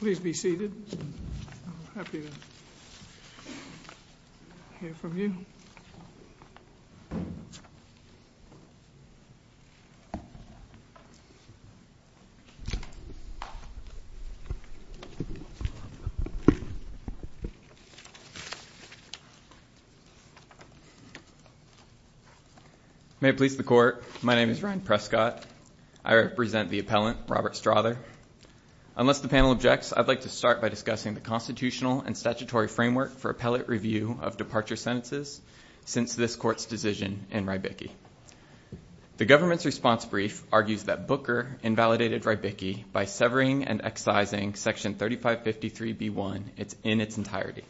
Please be seated. I'm happy to hear from you. May it please the Court, my name is Ryan Prescott. I represent the appellant, Robert Strother. Unless the panel objects, I'd like to start by discussing the constitutional and statutory framework for appellate review of departure sentences since this Court's decision in Rybicki. The government's response brief argues that Booker invalidated Rybicki by severing and excising section 3553b1 in its entirety.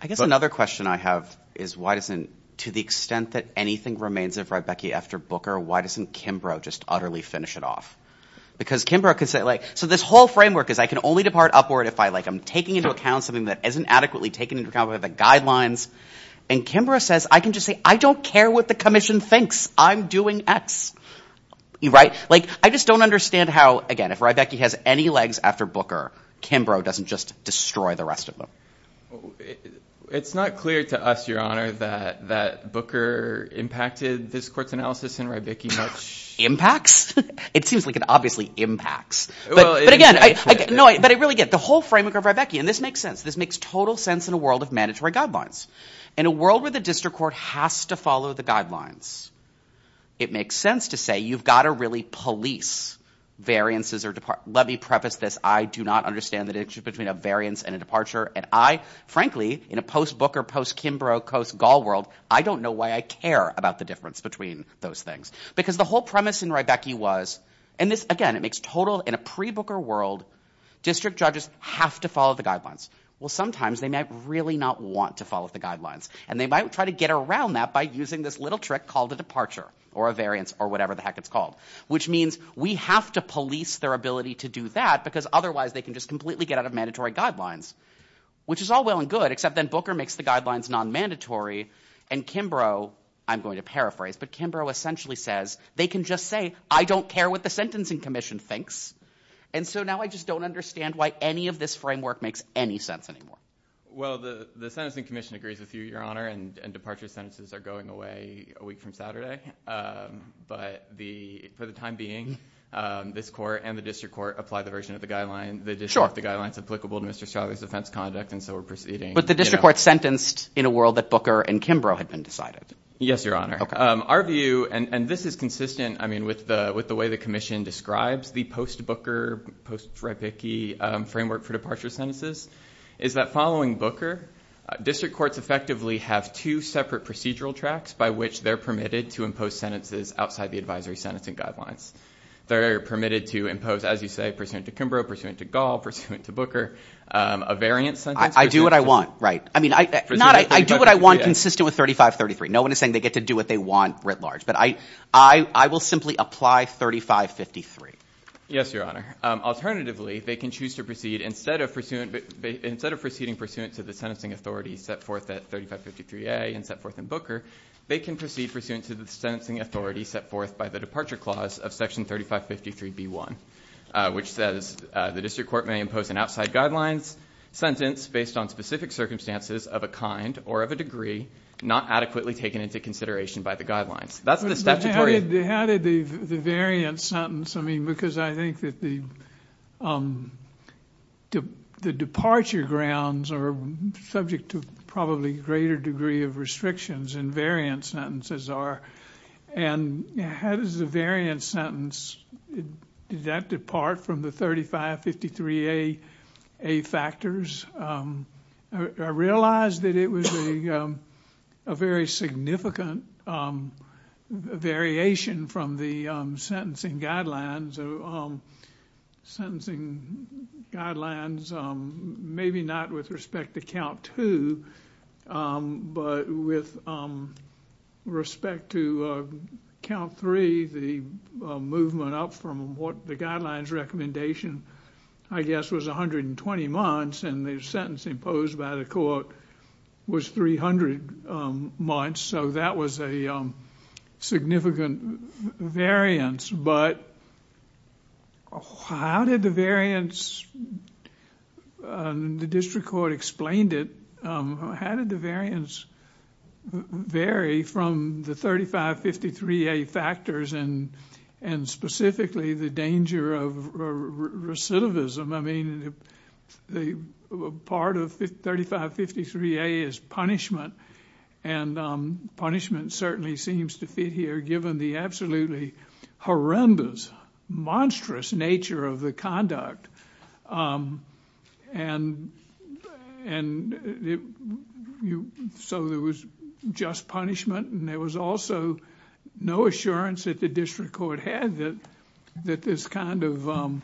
I guess another question I have is why doesn't, to the extent that anything remains of Rybicki after Booker, why doesn't Kimbrough just utterly finish it off? Because Kimbrough could say, like, so this whole framework is I can only depart upward if I, like, I'm taking into account something that isn't adequately taken into account by the guidelines. And Kimbrough says, I can just say, I don't care what the commission thinks. I'm doing X. Right? Like, I just don't understand how, again, if Rybicki has any legs after Booker, Kimbrough doesn't just destroy the rest of them. It's not clear to us, Your Honor, that Booker impacted this Court's analysis in Rybicki much. Impacts? It seems like it obviously impacts. But again, no, but I really get it. The whole framework of Rybicki, and this makes sense, this makes total sense in a world of mandatory guidelines. In a world where the district court has to follow the guidelines, it makes sense to say you've got to really police variances or, let me preface this, I do not understand the difference between a variance and a departure. And I, frankly, in a post-Booker, post-Kimbrough, post-Gaul world, I don't know why I care about the difference between those things. Because the whole premise in Rybicki was, and this, again, it makes total, in a pre-Booker world, district judges have to follow the guidelines. Well, sometimes they might really not want to follow the guidelines, and they might try to get around that by using this little trick called a departure, or a variance, or whatever the heck it's called. Which means we have to police their ability to do that, because otherwise they can just completely get out of mandatory guidelines. Which is all well and good, except then Booker makes the guidelines non-mandatory, and Kimbrough, I'm going to paraphrase, but Kimbrough essentially says, they can just say, I don't care what the Sentencing Commission thinks. And so now I just don't understand why any of this framework makes any sense anymore. Well, the Sentencing Commission agrees with you, Your Honor, and departure sentences are going away a week from Saturday. But for the time being, this court and the district court apply the version of the guidelines. Sure. The version of the guidelines is applicable to Mr. Strzok's offense conduct, and so we're proceeding. But the district court's sentenced in a world that Booker and Kimbrough had been decided. Yes, Your Honor. Okay. Our view, and this is consistent, I mean, with the way the commission describes the post-Booker, post-Freibicke framework for departure sentences, is that following Booker, district courts effectively have two separate procedural tracks by which they're permitted to impose sentences outside the advisory sentencing guidelines. They're permitted to impose, as you say, pursuant to Kimbrough, pursuant to Gall, pursuant to Booker, a variant sentence. I do what I want, right. I mean, I do what I want consistent with 3533. No one is saying they get to do what they want writ large. But I will simply apply 3553. Yes, Your Honor. Alternatively, they can choose to proceed instead of proceeding pursuant to the sentencing authority set forth at 3553A and set forth in Booker. They can proceed pursuant to the sentencing authority set forth by the departure clause of section 3553B1, which says the district court may impose an outside guidelines sentence based on specific circumstances of a kind or of a degree not adequately taken into consideration by the guidelines. How did the variant sentence, I mean, because I think that the departure grounds are subject to probably greater degree of restrictions than variant sentences are. And how does the variant sentence, did that depart from the 3553A factors? I realized that it was a very significant variation from the sentencing guidelines. Sentencing guidelines, maybe not with respect to count two, but with respect to count three, the movement up from what the guidelines recommendation, I guess, was 120 months. And the sentence imposed by the court was 300 months. So that was a significant variance. But how did the variance, the district court explained it, how did the variance vary from the 3553A factors and specifically the danger of recidivism? I mean, part of 3553A is punishment. And punishment certainly seems to fit here given the absolutely horrendous, monstrous nature of the conduct. And so there was just punishment and there was also no assurance that the district court had that this kind of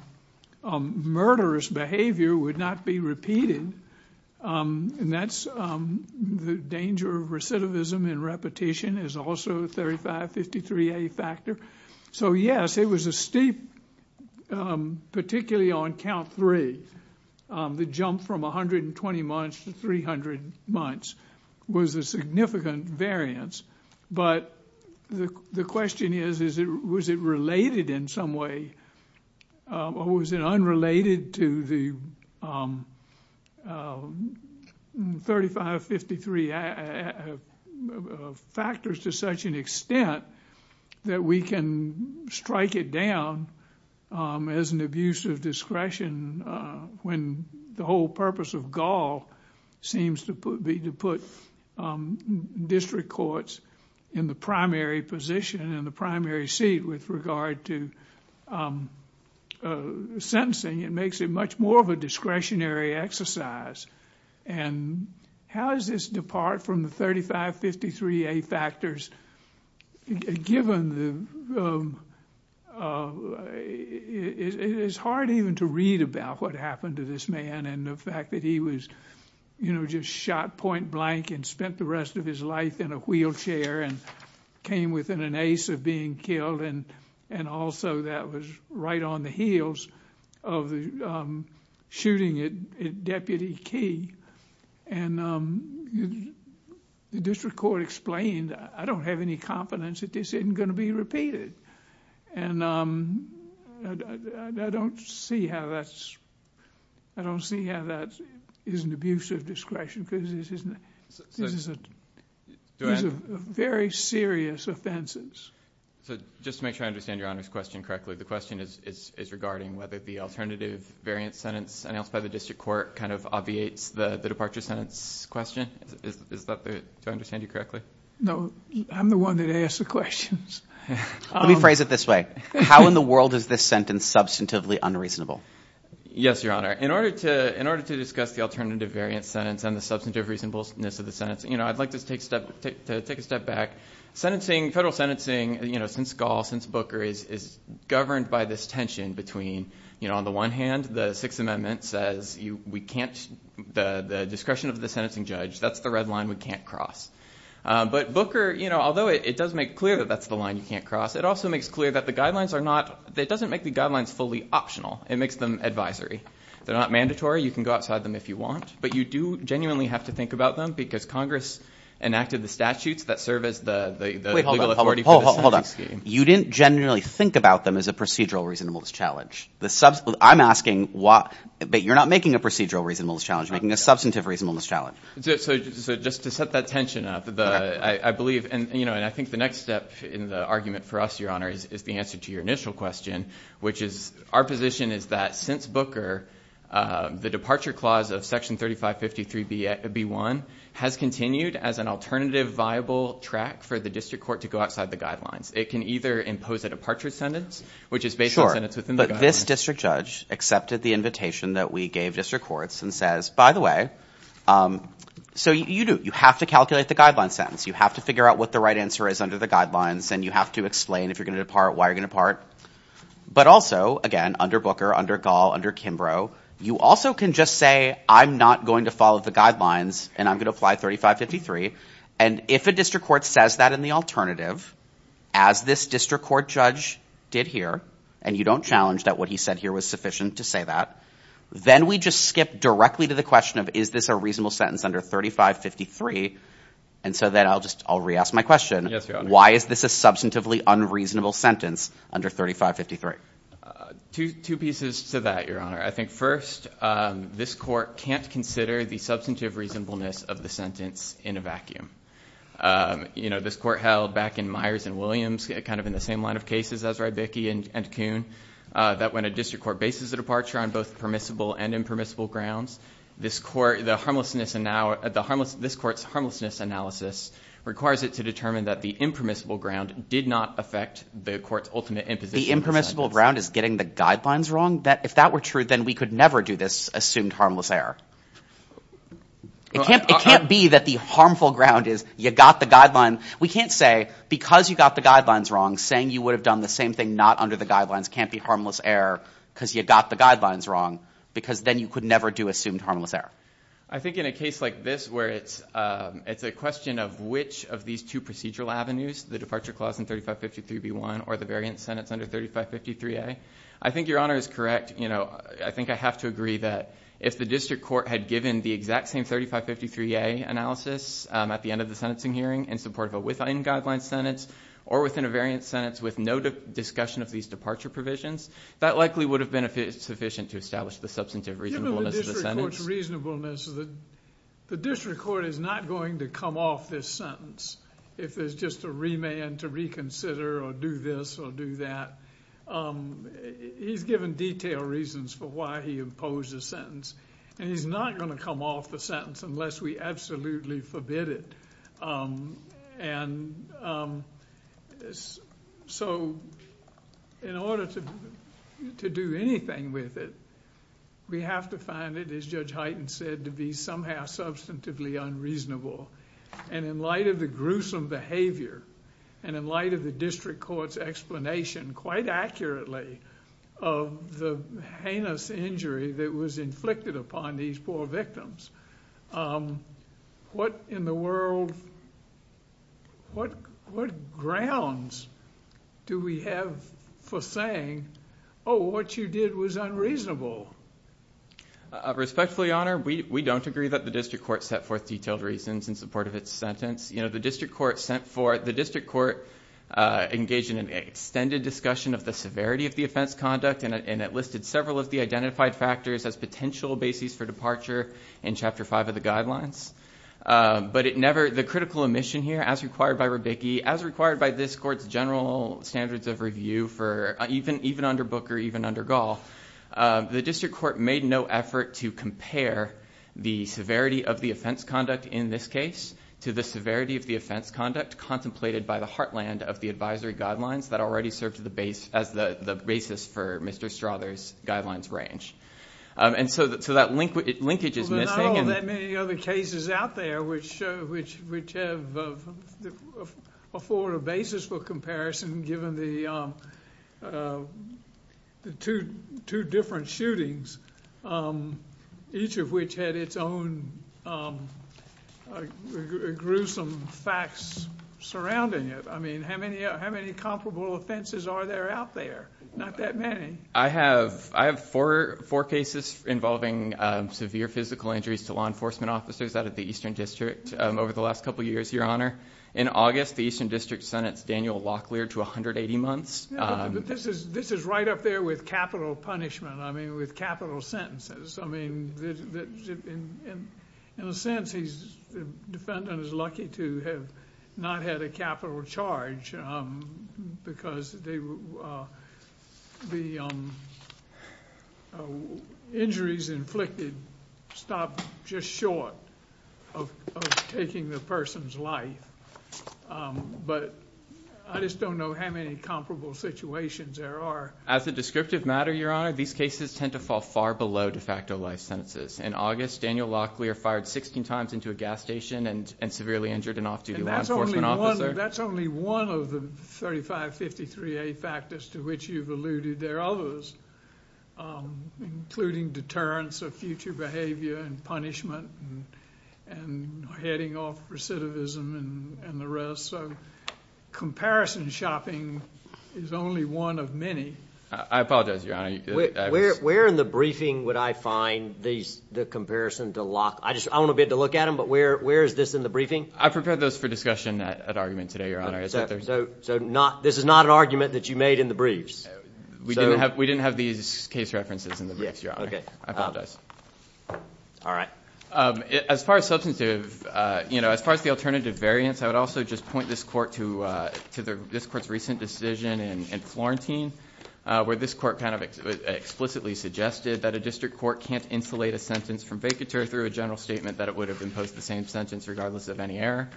murderous behavior would not be repeated. And that's the danger of recidivism and repetition is also 3553A factor. So, yes, it was a steep, particularly on count three, the jump from 120 months to 300 months was a significant variance. But the question is, was it related in some way or was it unrelated to the 3553A factors to such an extent that we can strike it down as an abuse of discretion when the whole purpose of Gaul seems to be to put district courts in the primary position, in the primary seat with regard to sentencing? It makes it much more of a discretionary exercise. And how does this depart from the 3553A factors, given it is hard even to read about what happened to this man and the fact that he was, you know, just shot point blank and spent the rest of his life in a wheelchair and came within an ace of being killed? And also that was right on the heels of the shooting at Deputy Key. And the district court explained, I don't have any confidence that this isn't going to be repeated. And I don't see how that's, I don't see how that is an abuse of discretion because this is a very serious offenses. So just to make sure I understand Your Honor's question correctly, the question is regarding whether the alternative variance sentence announced by the district court kind of obviates the departure sentence question. Is that the, do I understand you correctly? No, I'm the one that asks the questions. Let me phrase it this way. How in the world is this sentence substantively unreasonable? Yes, Your Honor. In order to discuss the alternative variance sentence and the substantive reasonableness of the sentence, you know, I'd like to take a step back. Sentencing, federal sentencing, you know, since Gaul, since Booker is governed by this tension between, you know, on the one hand the Sixth Amendment says we can't, the discretion of the sentencing judge, that's the red line we can't cross. But Booker, you know, although it does make clear that that's the line you can't cross, it also makes clear that the guidelines are not, it doesn't make the guidelines fully optional. It makes them advisory. They're not mandatory. You can go outside them if you want. But you do genuinely have to think about them because Congress enacted the statutes that serve as the legal authority for the sentencing scheme. You didn't genuinely think about them as a procedural reasonableness challenge. I'm asking why, but you're not making a procedural reasonableness challenge. You're making a substantive reasonableness challenge. So just to set that tension up, I believe, you know, and I think the next step in the argument for us, Your Honor, is the answer to your initial question, which is, our position is that since Booker, the Departure Clause of Section 3553B1 has continued as an alternative viable track for the district court to go outside the guidelines. It can either impose a departure sentence, which is based on the sentence within the guidelines. Sure, but this district judge accepted the invitation that we gave district courts and says, by the way, so you do, you have to calculate the guideline sentence. You have to figure out what the right answer is under the guidelines, and you have to explain if you're going to depart, why you're going to depart. But also, again, under Booker, under Gall, under Kimbrough, you also can just say, I'm not going to follow the guidelines, and I'm going to apply 3553. And if a district court says that in the alternative, as this district court judge did here, and you don't challenge that what he said here was sufficient to say that, then we just skip directly to the question of, is this a reasonable sentence under 3553? And so then I'll just, I'll re-ask my question. Why is this a substantively unreasonable sentence under 3553? Two pieces to that, Your Honor. I think first, this court can't consider the substantive reasonableness of the sentence in a vacuum. You know, this court held back in Myers and Williams, kind of in the same line of cases, Ezra, Bickey, and Kuhn, that when a district court bases a departure on both permissible and impermissible grounds, this court's harmlessness analysis requires it to determine that the impermissible ground did not affect the court's ultimate imposition of the sentence. The impermissible ground is getting the guidelines wrong? If that were true, then we could never do this assumed harmless error. It can't be that the harmful ground is, you got the guideline. We can't say, because you got the guidelines wrong, saying you would have done the same thing not under the guidelines can't be harmless error because you got the guidelines wrong. Because then you could never do assumed harmless error. I think in a case like this where it's a question of which of these two procedural avenues, the departure clause in 3553B1 or the variant sentence under 3553A, I think Your Honor is correct. You know, I think I have to agree that if the district court had given the exact same 3553A analysis at the end of the sentencing hearing in support of a within-guidelines sentence or within a variant sentence with no discussion of these departure provisions, that likely would have been sufficient to establish the substantive reasonableness of the sentence. Even with the district court's reasonableness, the district court is not going to come off this sentence if there's just a remand to reconsider or do this or do that. He's given detailed reasons for why he imposed the sentence, and he's not going to come off the sentence unless we absolutely forbid it. And so in order to do anything with it, we have to find it, as Judge Hyten said, to be somehow substantively unreasonable. And in light of the gruesome behavior and in light of the district court's explanation, quite accurately, of the heinous injury that was inflicted upon these poor victims, what in the world, what grounds do we have for saying, oh, what you did was unreasonable? Respectfully, Your Honor, we don't agree that the district court set forth detailed reasons in support of its sentence. You know, the district court engaged in an extended discussion of the severity of the offense conduct and it listed several of the identified factors as potential bases for departure in Chapter 5 of the guidelines. But the critical omission here, as required by Rubicki, as required by this court's general standards of review even under Booker, even under Gall, the district court made no effort to compare the severity of the offense conduct in this case to the severity of the offense conduct contemplated by the heartland of the advisory guidelines that already served as the basis for Mr. Strother's guidelines range. And so that linkage is missing. Well, there are not all that many other cases out there which afford a basis for comparison, given the two different shootings, each of which had its own gruesome facts surrounding it. I mean, how many comparable offenses are there out there? Not that many. I have four cases involving severe physical injuries to law enforcement officers out of the Eastern District over the last couple of years, Your Honor. In August, the Eastern District sentenced Daniel Locklear to 180 months. This is right up there with capital punishment, I mean, with capital sentences. I mean, in a sense, the defendant is lucky to have not had a capital charge because the injuries inflicted stopped just short of taking the person's life. But I just don't know how many comparable situations there are. As a descriptive matter, Your Honor, these cases tend to fall far below de facto life sentences. In August, Daniel Locklear fired 16 times into a gas station and severely injured an off-duty law enforcement officer. That's only one of the 3553A factors to which you've alluded. There are others, including deterrence of future behavior and punishment and heading off recidivism and the rest. Comparison shopping is only one of many. I apologize, Your Honor. Where in the briefing would I find the comparison to Locklear? I want to be able to look at them, but where is this in the briefing? I prepared those for discussion at argument today, Your Honor. So this is not an argument that you made in the briefs? We didn't have these case references in the briefs, Your Honor. I apologize. All right. As far as substantive, you know, as far as the alternative variants, I would also just point this court to this court's recent decision in Florentine, where this court kind of explicitly suggested that a district court can't insulate a sentence from vacatur through a general statement that it would have imposed the same sentence regardless of any error.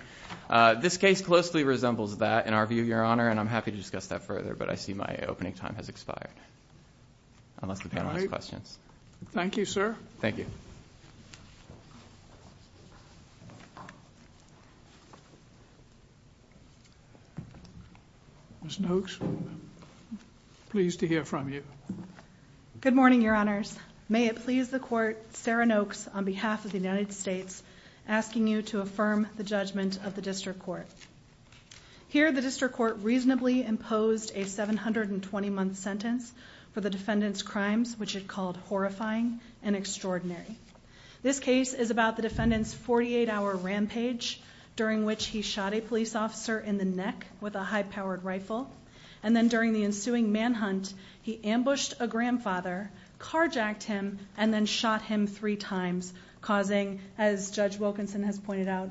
This case closely resembles that, in our view, Your Honor, and I'm happy to discuss that further, but I see my opening time has expired, unless the panel has questions. Thank you, sir. Thank you. Ms. Noakes, pleased to hear from you. Good morning, Your Honors. May it please the Court, Sarah Noakes, on behalf of the United States, asking you to affirm the judgment of the district court. Here, the district court reasonably imposed a 720-month sentence for the defendant's crimes, which it called horrifying and extraordinary. This case is about the defendant's 48-hour rampage, during which he shot a police officer in the neck with a high-powered rifle, and then during the ensuing manhunt, he ambushed a grandfather, carjacked him, and then shot him three times, causing, as Judge Wilkinson has pointed out,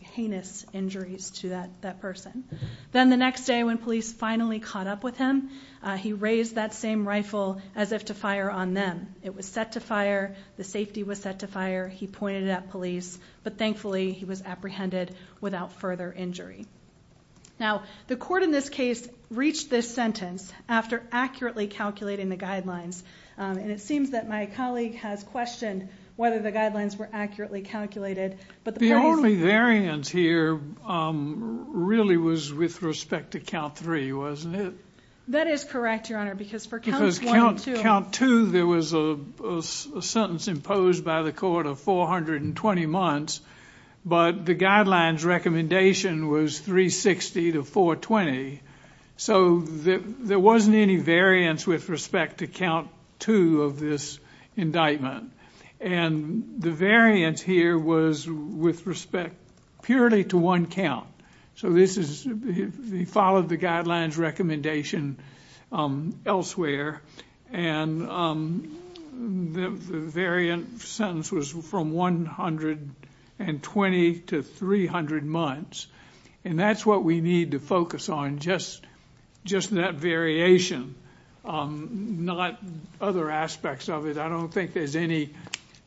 heinous injuries to that person. Then the next day, when police finally caught up with him, he raised that same rifle as if to fire on them. It was set to fire, the safety was set to fire, he pointed it at police, but thankfully he was apprehended without further injury. Now, the court in this case reached this sentence after accurately calculating the guidelines, and it seems that my colleague has questioned whether the guidelines were accurately calculated. The only variance here really was with respect to count three, wasn't it? That is correct, Your Honor, because for count two, there was a sentence imposed by the court of 420 months, but the guidelines recommendation was 360 to 420, so there wasn't any variance with respect to count two of this indictment, and the variance here was with respect purely to one count. He followed the guidelines recommendation elsewhere, and the variant sentence was from 120 to 300 months, and that's what we need to focus on, just that variation, not other aspects of it. I don't think there's any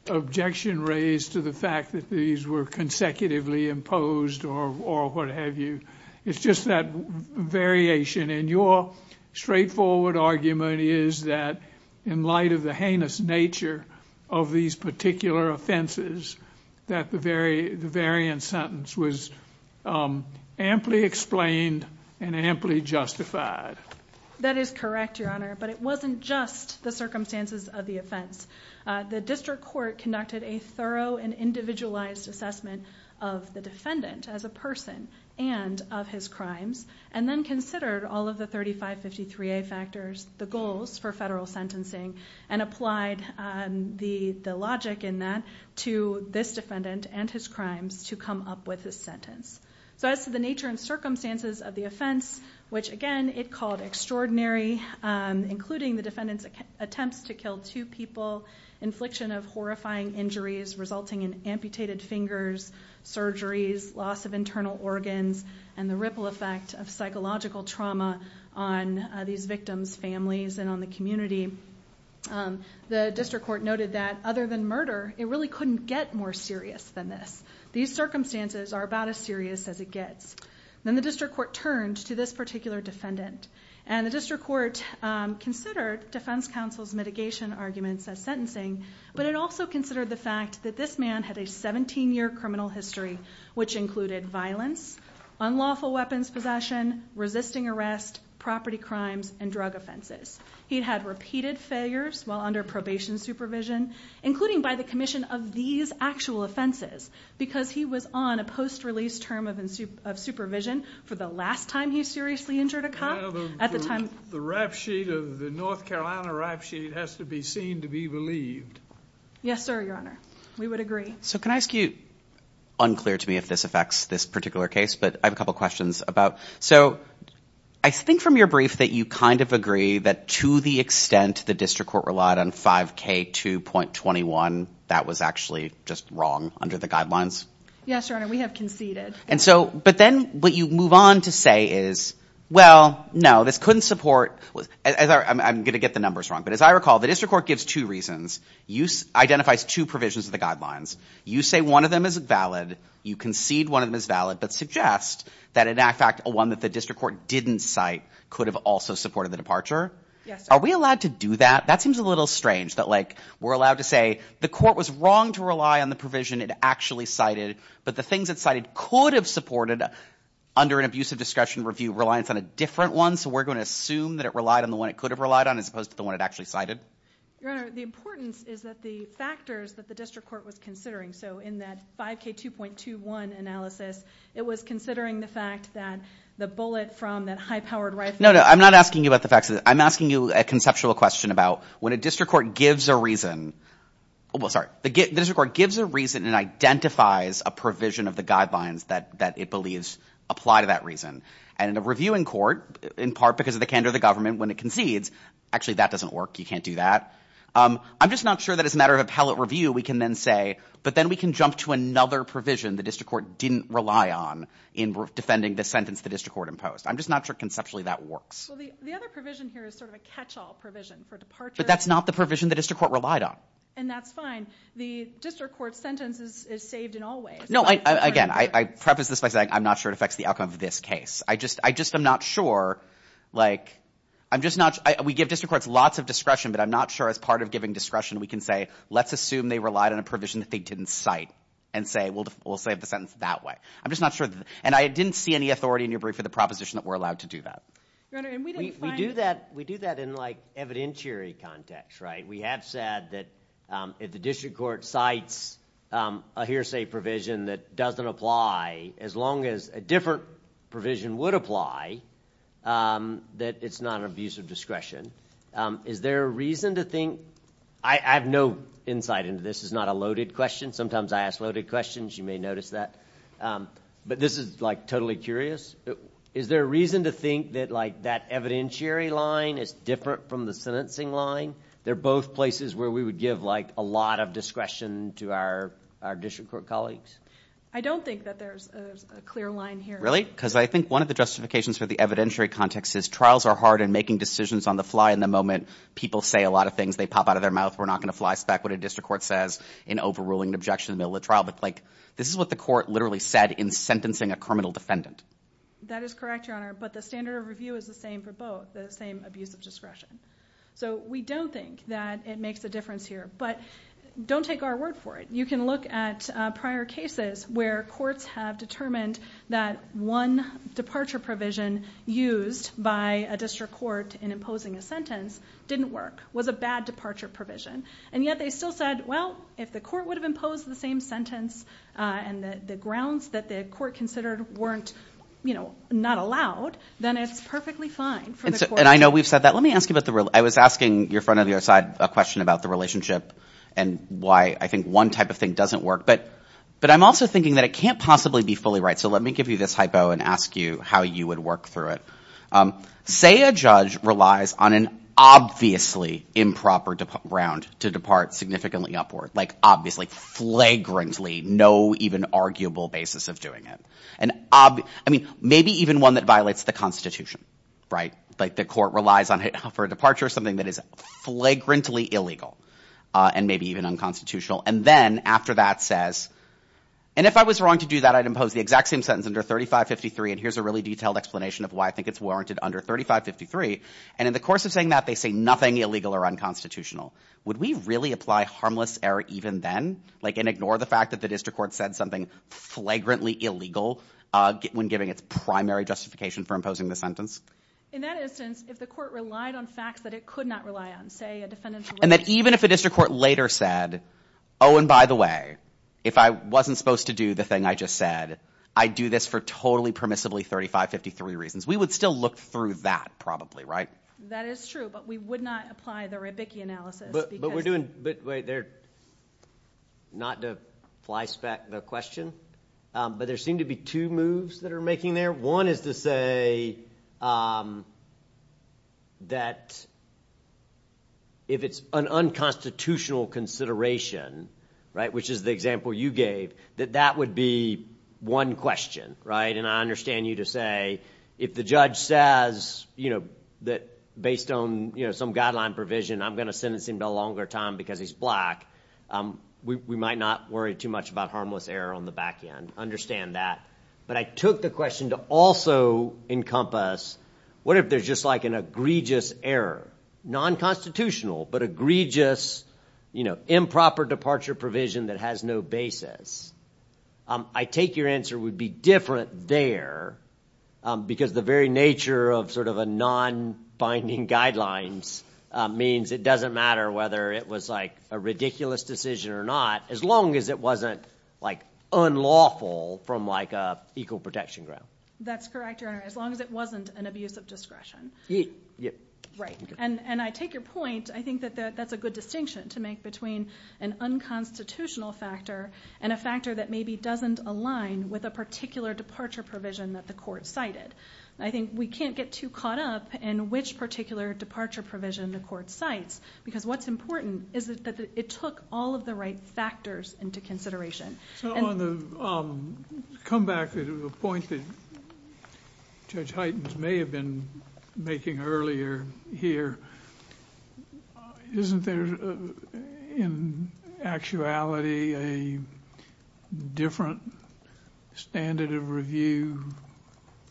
objection raised to the fact that these were consecutively imposed or what have you, it's just that variation, and your straightforward argument is that in light of the heinous nature of these particular offenses, that the variant sentence was amply explained and amply justified. That is correct, Your Honor, but it wasn't just the circumstances of the offense. The district court conducted a thorough and individualized assessment of the defendant as a person and of his crimes, and then considered all of the 3553A factors, the goals for federal sentencing, and applied the logic in that to this defendant and his crimes to come up with his sentence. As to the nature and circumstances of the offense, which again it called extraordinary, including the defendant's attempts to kill two people, infliction of horrifying injuries resulting in amputated fingers, surgeries, loss of internal organs, and the ripple effect of psychological trauma on these victims' families and on the community, the district court noted that other than murder, it really couldn't get more serious than this. These circumstances are about as serious as it gets. Then the district court turned to this particular defendant, and the district court considered defense counsel's mitigation arguments as sentencing, but it also considered the fact that this man had a 17-year criminal history, which included violence, unlawful weapons possession, resisting arrest, property crimes, and drug offenses. He had repeated failures while under probation supervision, including by the commission of these actual offenses, because he was on a post-release term of supervision for the last time he seriously injured a cop. The North Carolina rap sheet has to be seen to be believed. Yes, sir, your honor. We would agree. Can I ask you, unclear to me if this affects this particular case, but I have a couple of questions. I think from your brief that you kind of agree that to the extent the district court relied on 5K2.21, that was actually just wrong under the guidelines. Yes, your honor. We have conceded. But then what you move on to say is, well, no, this couldn't support. I'm going to get the numbers wrong, but as I recall, the district court gives two reasons. Identifies two provisions of the guidelines. You say one of them is valid. You concede one of them is valid, but suggest that in fact one that the district court didn't cite could have also supported the departure. Are we allowed to do that? That seems a little strange that like we're allowed to say the court was wrong to rely on the provision it actually cited, but the things it cited could have supported under an abusive discretion review reliance on a different one. So we're going to assume that it relied on the one it could have relied on as opposed to the one it actually cited. Your honor, the importance is that the factors that the district court was considering. So in that 5K2.21 analysis, it was considering the fact that the bullet from that high powered rifle. No, no, I'm not asking you about the facts. I'm asking you a conceptual question about when a district court gives a reason. Well, sorry, the district court gives a reason and identifies a provision of the guidelines that it believes apply to that reason. And in a reviewing court, in part because of the candor of the government when it concedes. Actually, that doesn't work. You can't do that. I'm just not sure that as a matter of appellate review, we can then say, but then we can jump to another provision the district court didn't rely on in defending the sentence the district court imposed. I'm just not sure conceptually that works. Well, the other provision here is sort of a catch-all provision for departure. But that's not the provision the district court relied on. And that's fine. The district court sentence is saved in all ways. No, again, I preface this by saying I'm not sure it affects the outcome of this case. I just, I just am not sure. Like, I'm just not, we give district courts lots of discretion, but I'm not sure as part of giving discretion we can say, let's assume they relied on a provision that they didn't cite and say, well, we'll save the sentence that way. I'm just not sure. And I didn't see any authority in your brief for the proposition that we're allowed to do that. We do that. We do that in like evidentiary context, right? We have said that if the district court cites a hearsay provision that doesn't apply, as long as a different provision would apply, that it's not an abuse of discretion. Is there a reason to think I have no insight into this is not a loaded question. Sometimes I ask loaded questions. You may notice that. But this is like totally curious. Is there a reason to think that like that evidentiary line is different from the sentencing line? They're both places where we would give like a lot of discretion to our district court colleagues. I don't think that there's a clear line here. Really? Because I think one of the justifications for the evidentiary context is trials are hard and making decisions on the fly in the moment. People say a lot of things. They pop out of their mouth. We're not going to fly spec what a district court says in overruling an objection in the middle of the trial. But like this is what the court literally said in sentencing a criminal defendant. That is correct, Your Honor. But the standard of review is the same for both. The same abuse of discretion. So we don't think that it makes a difference here. But don't take our word for it. You can look at prior cases where courts have determined that one departure provision used by a district court in imposing a sentence didn't work. It was a bad departure provision. And yet they still said, well, if the court would have imposed the same sentence and the grounds that the court considered weren't, you know, not allowed, then it's perfectly fine. And I know we've said that. Let me ask you about the real. I was asking your friend on the other side a question about the relationship and why I think one type of thing doesn't work. But but I'm also thinking that it can't possibly be fully right. So let me give you this hypo and ask you how you would work through it. Say a judge relies on an obviously improper round to depart significantly upward, like obviously flagrantly, no even arguable basis of doing it. And I mean, maybe even one that violates the Constitution. Right. Like the court relies on it for a departure or something that is flagrantly illegal and maybe even unconstitutional. And then after that says and if I was wrong to do that, I'd impose the exact same sentence under thirty five fifty three. And here's a really detailed explanation of why I think it's warranted under thirty five fifty three. And in the course of saying that they say nothing illegal or unconstitutional. Would we really apply harmless error even then? Like and ignore the fact that the district court said something flagrantly illegal when giving its primary justification for imposing the sentence. In that instance, if the court relied on facts that it could not rely on, say a defendant. And that even if a district court later said, oh, and by the way, if I wasn't supposed to do the thing I just said, I do this for totally permissibly thirty five fifty three reasons, we would still look through that probably. Right. That is true. But we would not apply the Rebicki analysis. But we're doing. But wait there. Not to fly spec the question, but there seem to be two moves that are making there. One is to say. That. If it's an unconstitutional consideration. Right. Which is the example you gave that that would be one question. Right. And I understand you to say if the judge says, you know, that based on some guideline provision, I'm going to sentence him to a longer time because he's black. We might not worry too much about harmless error on the back end. Understand that. But I took the question to also encompass. What if there's just like an egregious error, nonconstitutional, but egregious improper departure provision that has no basis? I take your answer would be different there because the very nature of sort of a non binding guidelines means it doesn't matter whether it was like a ridiculous decision or not. As long as it wasn't like unlawful from like a equal protection ground. That's correct. As long as it wasn't an abuse of discretion. Right. And I take your point. I think that that's a good distinction to make between an unconstitutional factor and a factor that maybe doesn't align with a particular departure provision that the court cited. I think we can't get too caught up in which particular departure provision the court cites because what's important is that it took all of the right factors into consideration. So on the come back to the point that Judge Hytens may have been making earlier here. Isn't there in actuality a different standard of review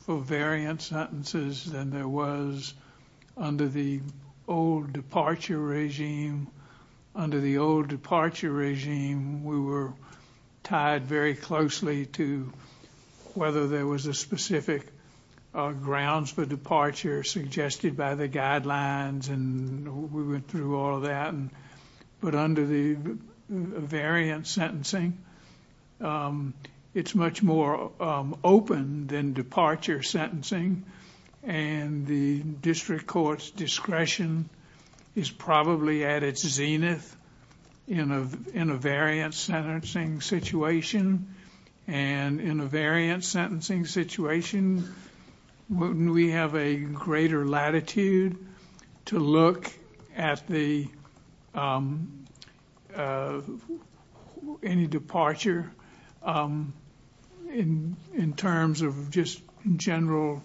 for variant sentences than there was under the old departure regime? Under the old departure regime, we were tied very closely to whether there was a specific grounds for departure suggested by the guidelines. We went through all of that. But under the variant sentencing, it's much more open than departure sentencing. And the district court's discretion is probably at its zenith in a variant sentencing situation. And in a variant sentencing situation, wouldn't we have a greater latitude to look at any departure in terms of just general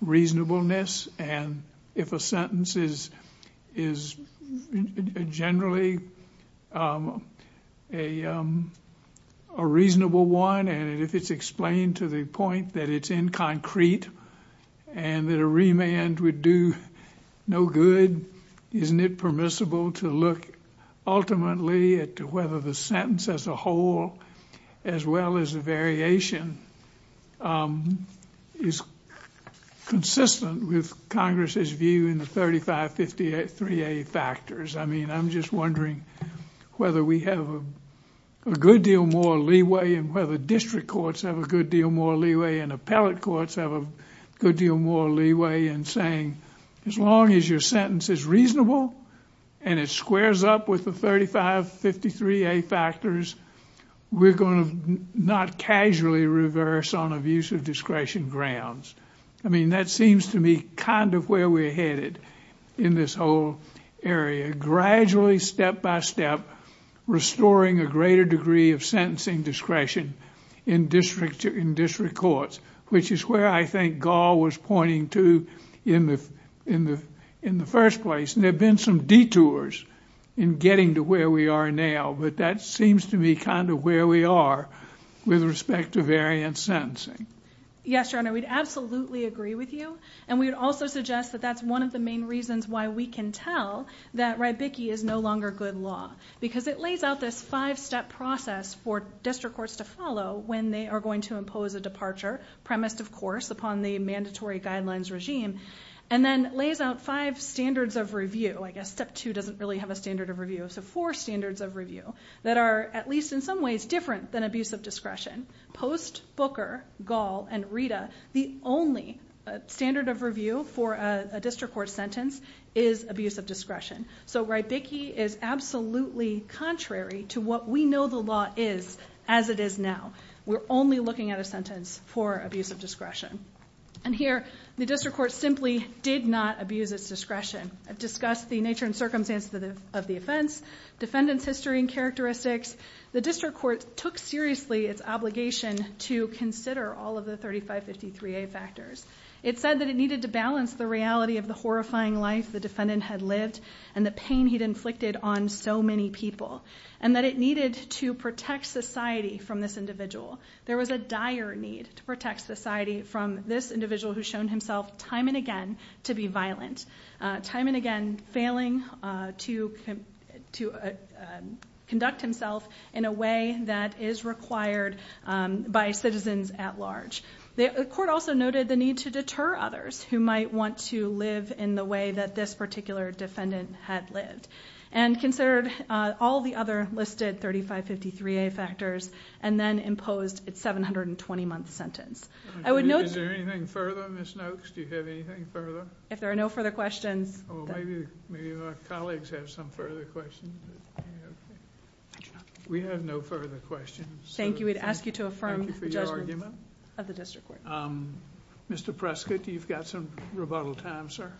reasonableness? And if a sentence is generally a reasonable one and if it's explained to the point that it's in concrete and that a remand would do no good, isn't it permissible to look ultimately at whether the sentence as a whole as well as a variation is consistent with Congress's view in the 3553A factors? I mean, I'm just wondering whether we have a good deal more leeway and whether district courts have a good deal more leeway and appellate courts have a good deal more leeway in saying, as long as your sentence is reasonable and it squares up with the 3553A factors, we're going to not casually reverse on abuse of discretion grounds. I mean, that seems to me kind of where we're headed in this whole area, gradually, step by step, restoring a greater degree of sentencing discretion in district courts, which is where I think Gall was pointing to in the first place. And there have been some detours in getting to where we are now, but that seems to me kind of where we are with respect to variant sentencing. Yes, Your Honor, we'd absolutely agree with you. And we would also suggest that that's one of the main reasons why we can tell that Rybicki is no longer good law, because it lays out this five-step process for district courts to follow when they are going to impose a departure, premised, of course, upon the mandatory guidelines regime, and then lays out five standards of review. I guess step two doesn't really have a standard of review. So four standards of review that are at least in some ways different than abuse of discretion. Post Booker, Gall, and Rita, the only standard of review for a district court sentence is abuse of discretion. So Rybicki is absolutely contrary to what we know the law is as it is now. We're only looking at a sentence for abuse of discretion. And here, the district court simply did not abuse its discretion. I've discussed the nature and circumstance of the offense, defendant's history and characteristics. The district court took seriously its obligation to consider all of the 3553A factors. It said that it needed to balance the reality of the horrifying life the defendant had lived and the pain he'd inflicted on so many people, and that it needed to protect society from this individual. There was a dire need to protect society from this individual who's shown himself time and again to be violent, time and again failing to conduct himself in a way that is required by citizens at large. The court also noted the need to deter others who might want to live in the way that this particular defendant had lived, and considered all the other listed 3553A factors, and then imposed its 720-month sentence. I would note- Is there anything further, Ms. Noakes? Do you have anything further? If there are no further questions- Well, maybe our colleagues have some further questions. We have no further questions. Thank you. We'd ask you to affirm the judgment- Mr. Prescott, you've got some rebuttal time, sir.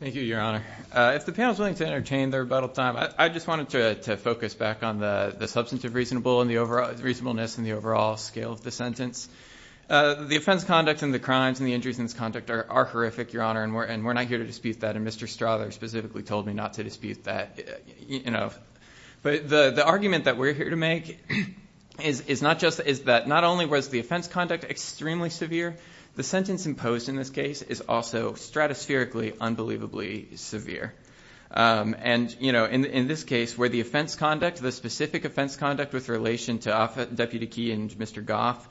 Thank you, Your Honor. If the panel is willing to entertain the rebuttal time, I just wanted to focus back on the substantive reasonableness and the overall scale of the sentence. The offense conduct and the crimes and the injuries in this conduct are horrific, Your Honor, and we're not here to dispute that, and Mr. Strother specifically told me not to dispute that. The argument that we're here to make is that not only was the offense conduct extremely severe, the sentence imposed in this case is also stratospherically unbelievably severe. In this case, where the specific offense conduct with relation to Deputy Key and Mr. Goff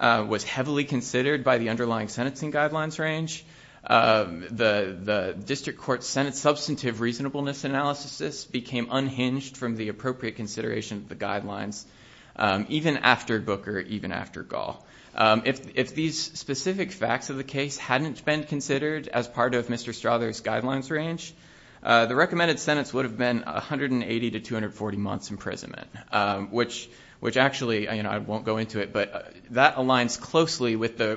was heavily considered by the underlying sentencing guidelines range, the District Court-Senate substantive reasonableness analysis became unhinged from the appropriate consideration of the guidelines, even after Booker, even after Gall. If these specific facts of the case hadn't been considered as part of Mr. Strother's guidelines range, the recommended sentence would have been 180 to 240 months imprisonment, which actually, I won't go into it, but that aligns closely with the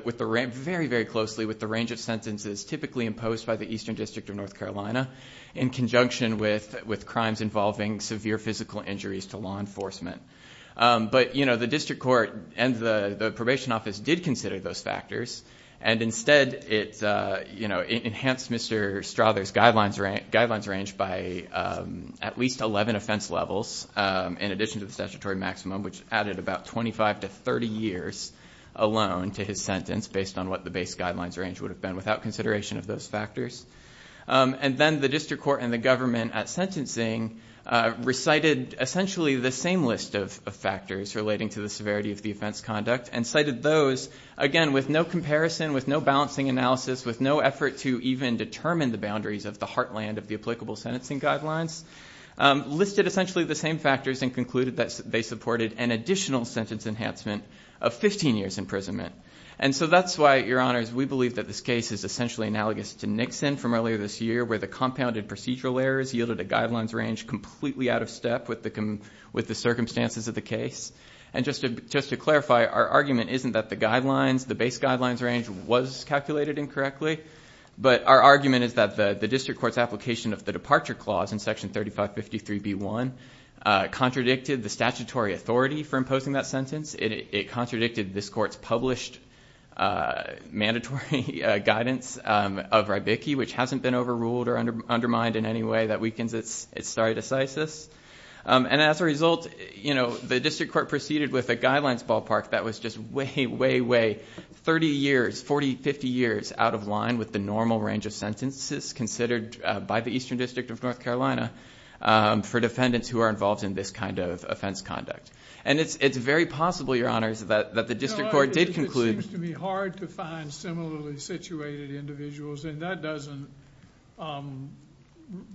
range of sentences typically imposed by the Eastern District of North Carolina in conjunction with crimes involving severe physical injuries to law enforcement. But the District Court and the Probation Office did consider those factors, and instead it enhanced Mr. Strother's guidelines range by at least 11 offense levels in addition to the statutory maximum, which added about 25 to 30 years alone to his sentence based on what the base guidelines range would have been without consideration of those factors. And then the District Court and the government at sentencing recited essentially the same list of factors relating to the severity of the offense conduct and cited those, again, with no comparison, with no balancing analysis, with no effort to even determine the boundaries of the heartland of the applicable sentencing guidelines, listed essentially the same factors and concluded that they supported an additional sentence enhancement of 15 years imprisonment. And so that's why, Your Honors, we believe that this case is essentially analogous to Nixon from earlier this year where the compounded procedural errors yielded a guidelines range completely out of step with the circumstances of the case. And just to clarify, our argument isn't that the guidelines, the base guidelines range, was calculated incorrectly, but our argument is that the District Court's application of the departure clause in Section 3553B1 contradicted the statutory authority for imposing that sentence. It contradicted this Court's published mandatory guidance of Rybicki, which hasn't been overruled or undermined in any way that weakens its stare decisis. And as a result, the District Court proceeded with a guidelines ballpark that was just way, way, way, 30 years, 40, 50 years out of line with the normal range of sentences considered by the Eastern District of North Carolina for defendants who are involved in this kind of offense conduct. And it's very possible, Your Honors, that the District Court did conclude... It seems to me hard to find similarly situated individuals, and that doesn't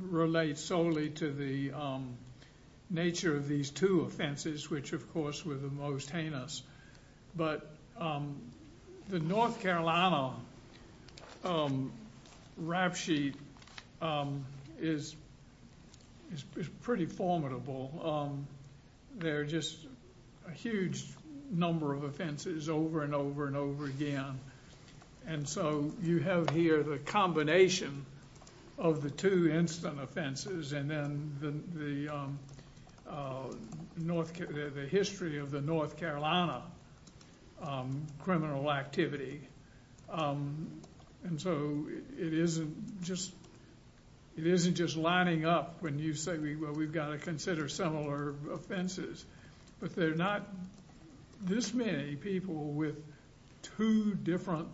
relate solely to the nature of these two offenses, which, of course, were the most heinous. But the North Carolina rap sheet is pretty formidable. There are just a huge number of offenses over and over and over again. And so you have here the combination of the two instant offenses and then the history of the North Carolina criminal activity. And so it isn't just lining up when you say, well, we've got to consider similar offenses. But there are not this many people with two different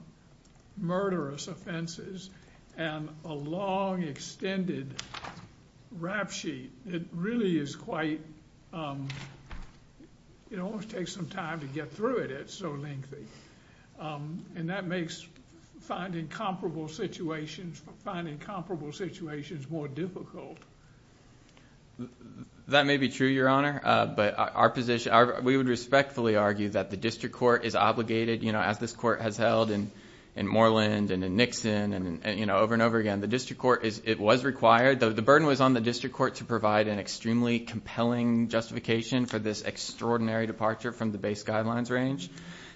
murderous offenses and a long, extended rap sheet. It really is quite... it almost takes some time to get through it. It's so lengthy. And that makes finding comparable situations more difficult. That may be true, Your Honor, but our position... we would respectfully argue that the District Court is obligated, as this Court has held in Moreland and in Nixon and over and over again, the District Court was required... the burden was on the District Court to provide an extremely compelling justification for this extraordinary departure from the base guidelines range.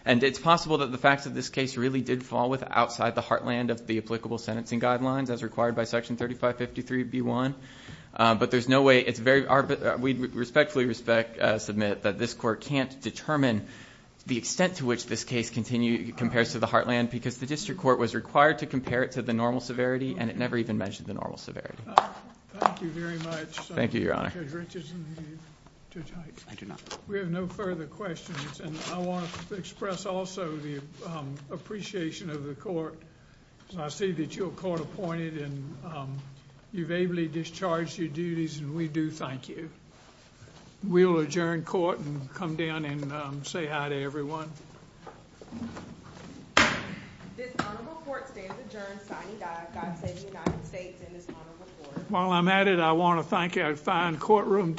And it's possible that the facts of this case really did fall with outside the heartland of the applicable sentencing guidelines as required by Section 3553b1. But there's no way... it's very... because the District Court was required to compare it to the normal severity and it never even mentioned the normal severity. Thank you very much. Thank you, Your Honor. We have no further questions. And I want to express also the appreciation of the court. I see that you're court-appointed and you've ably discharged your duties and we do thank you. We'll adjourn court and come down and say hi to everyone. While I'm at it, I want to thank our fine courtroom...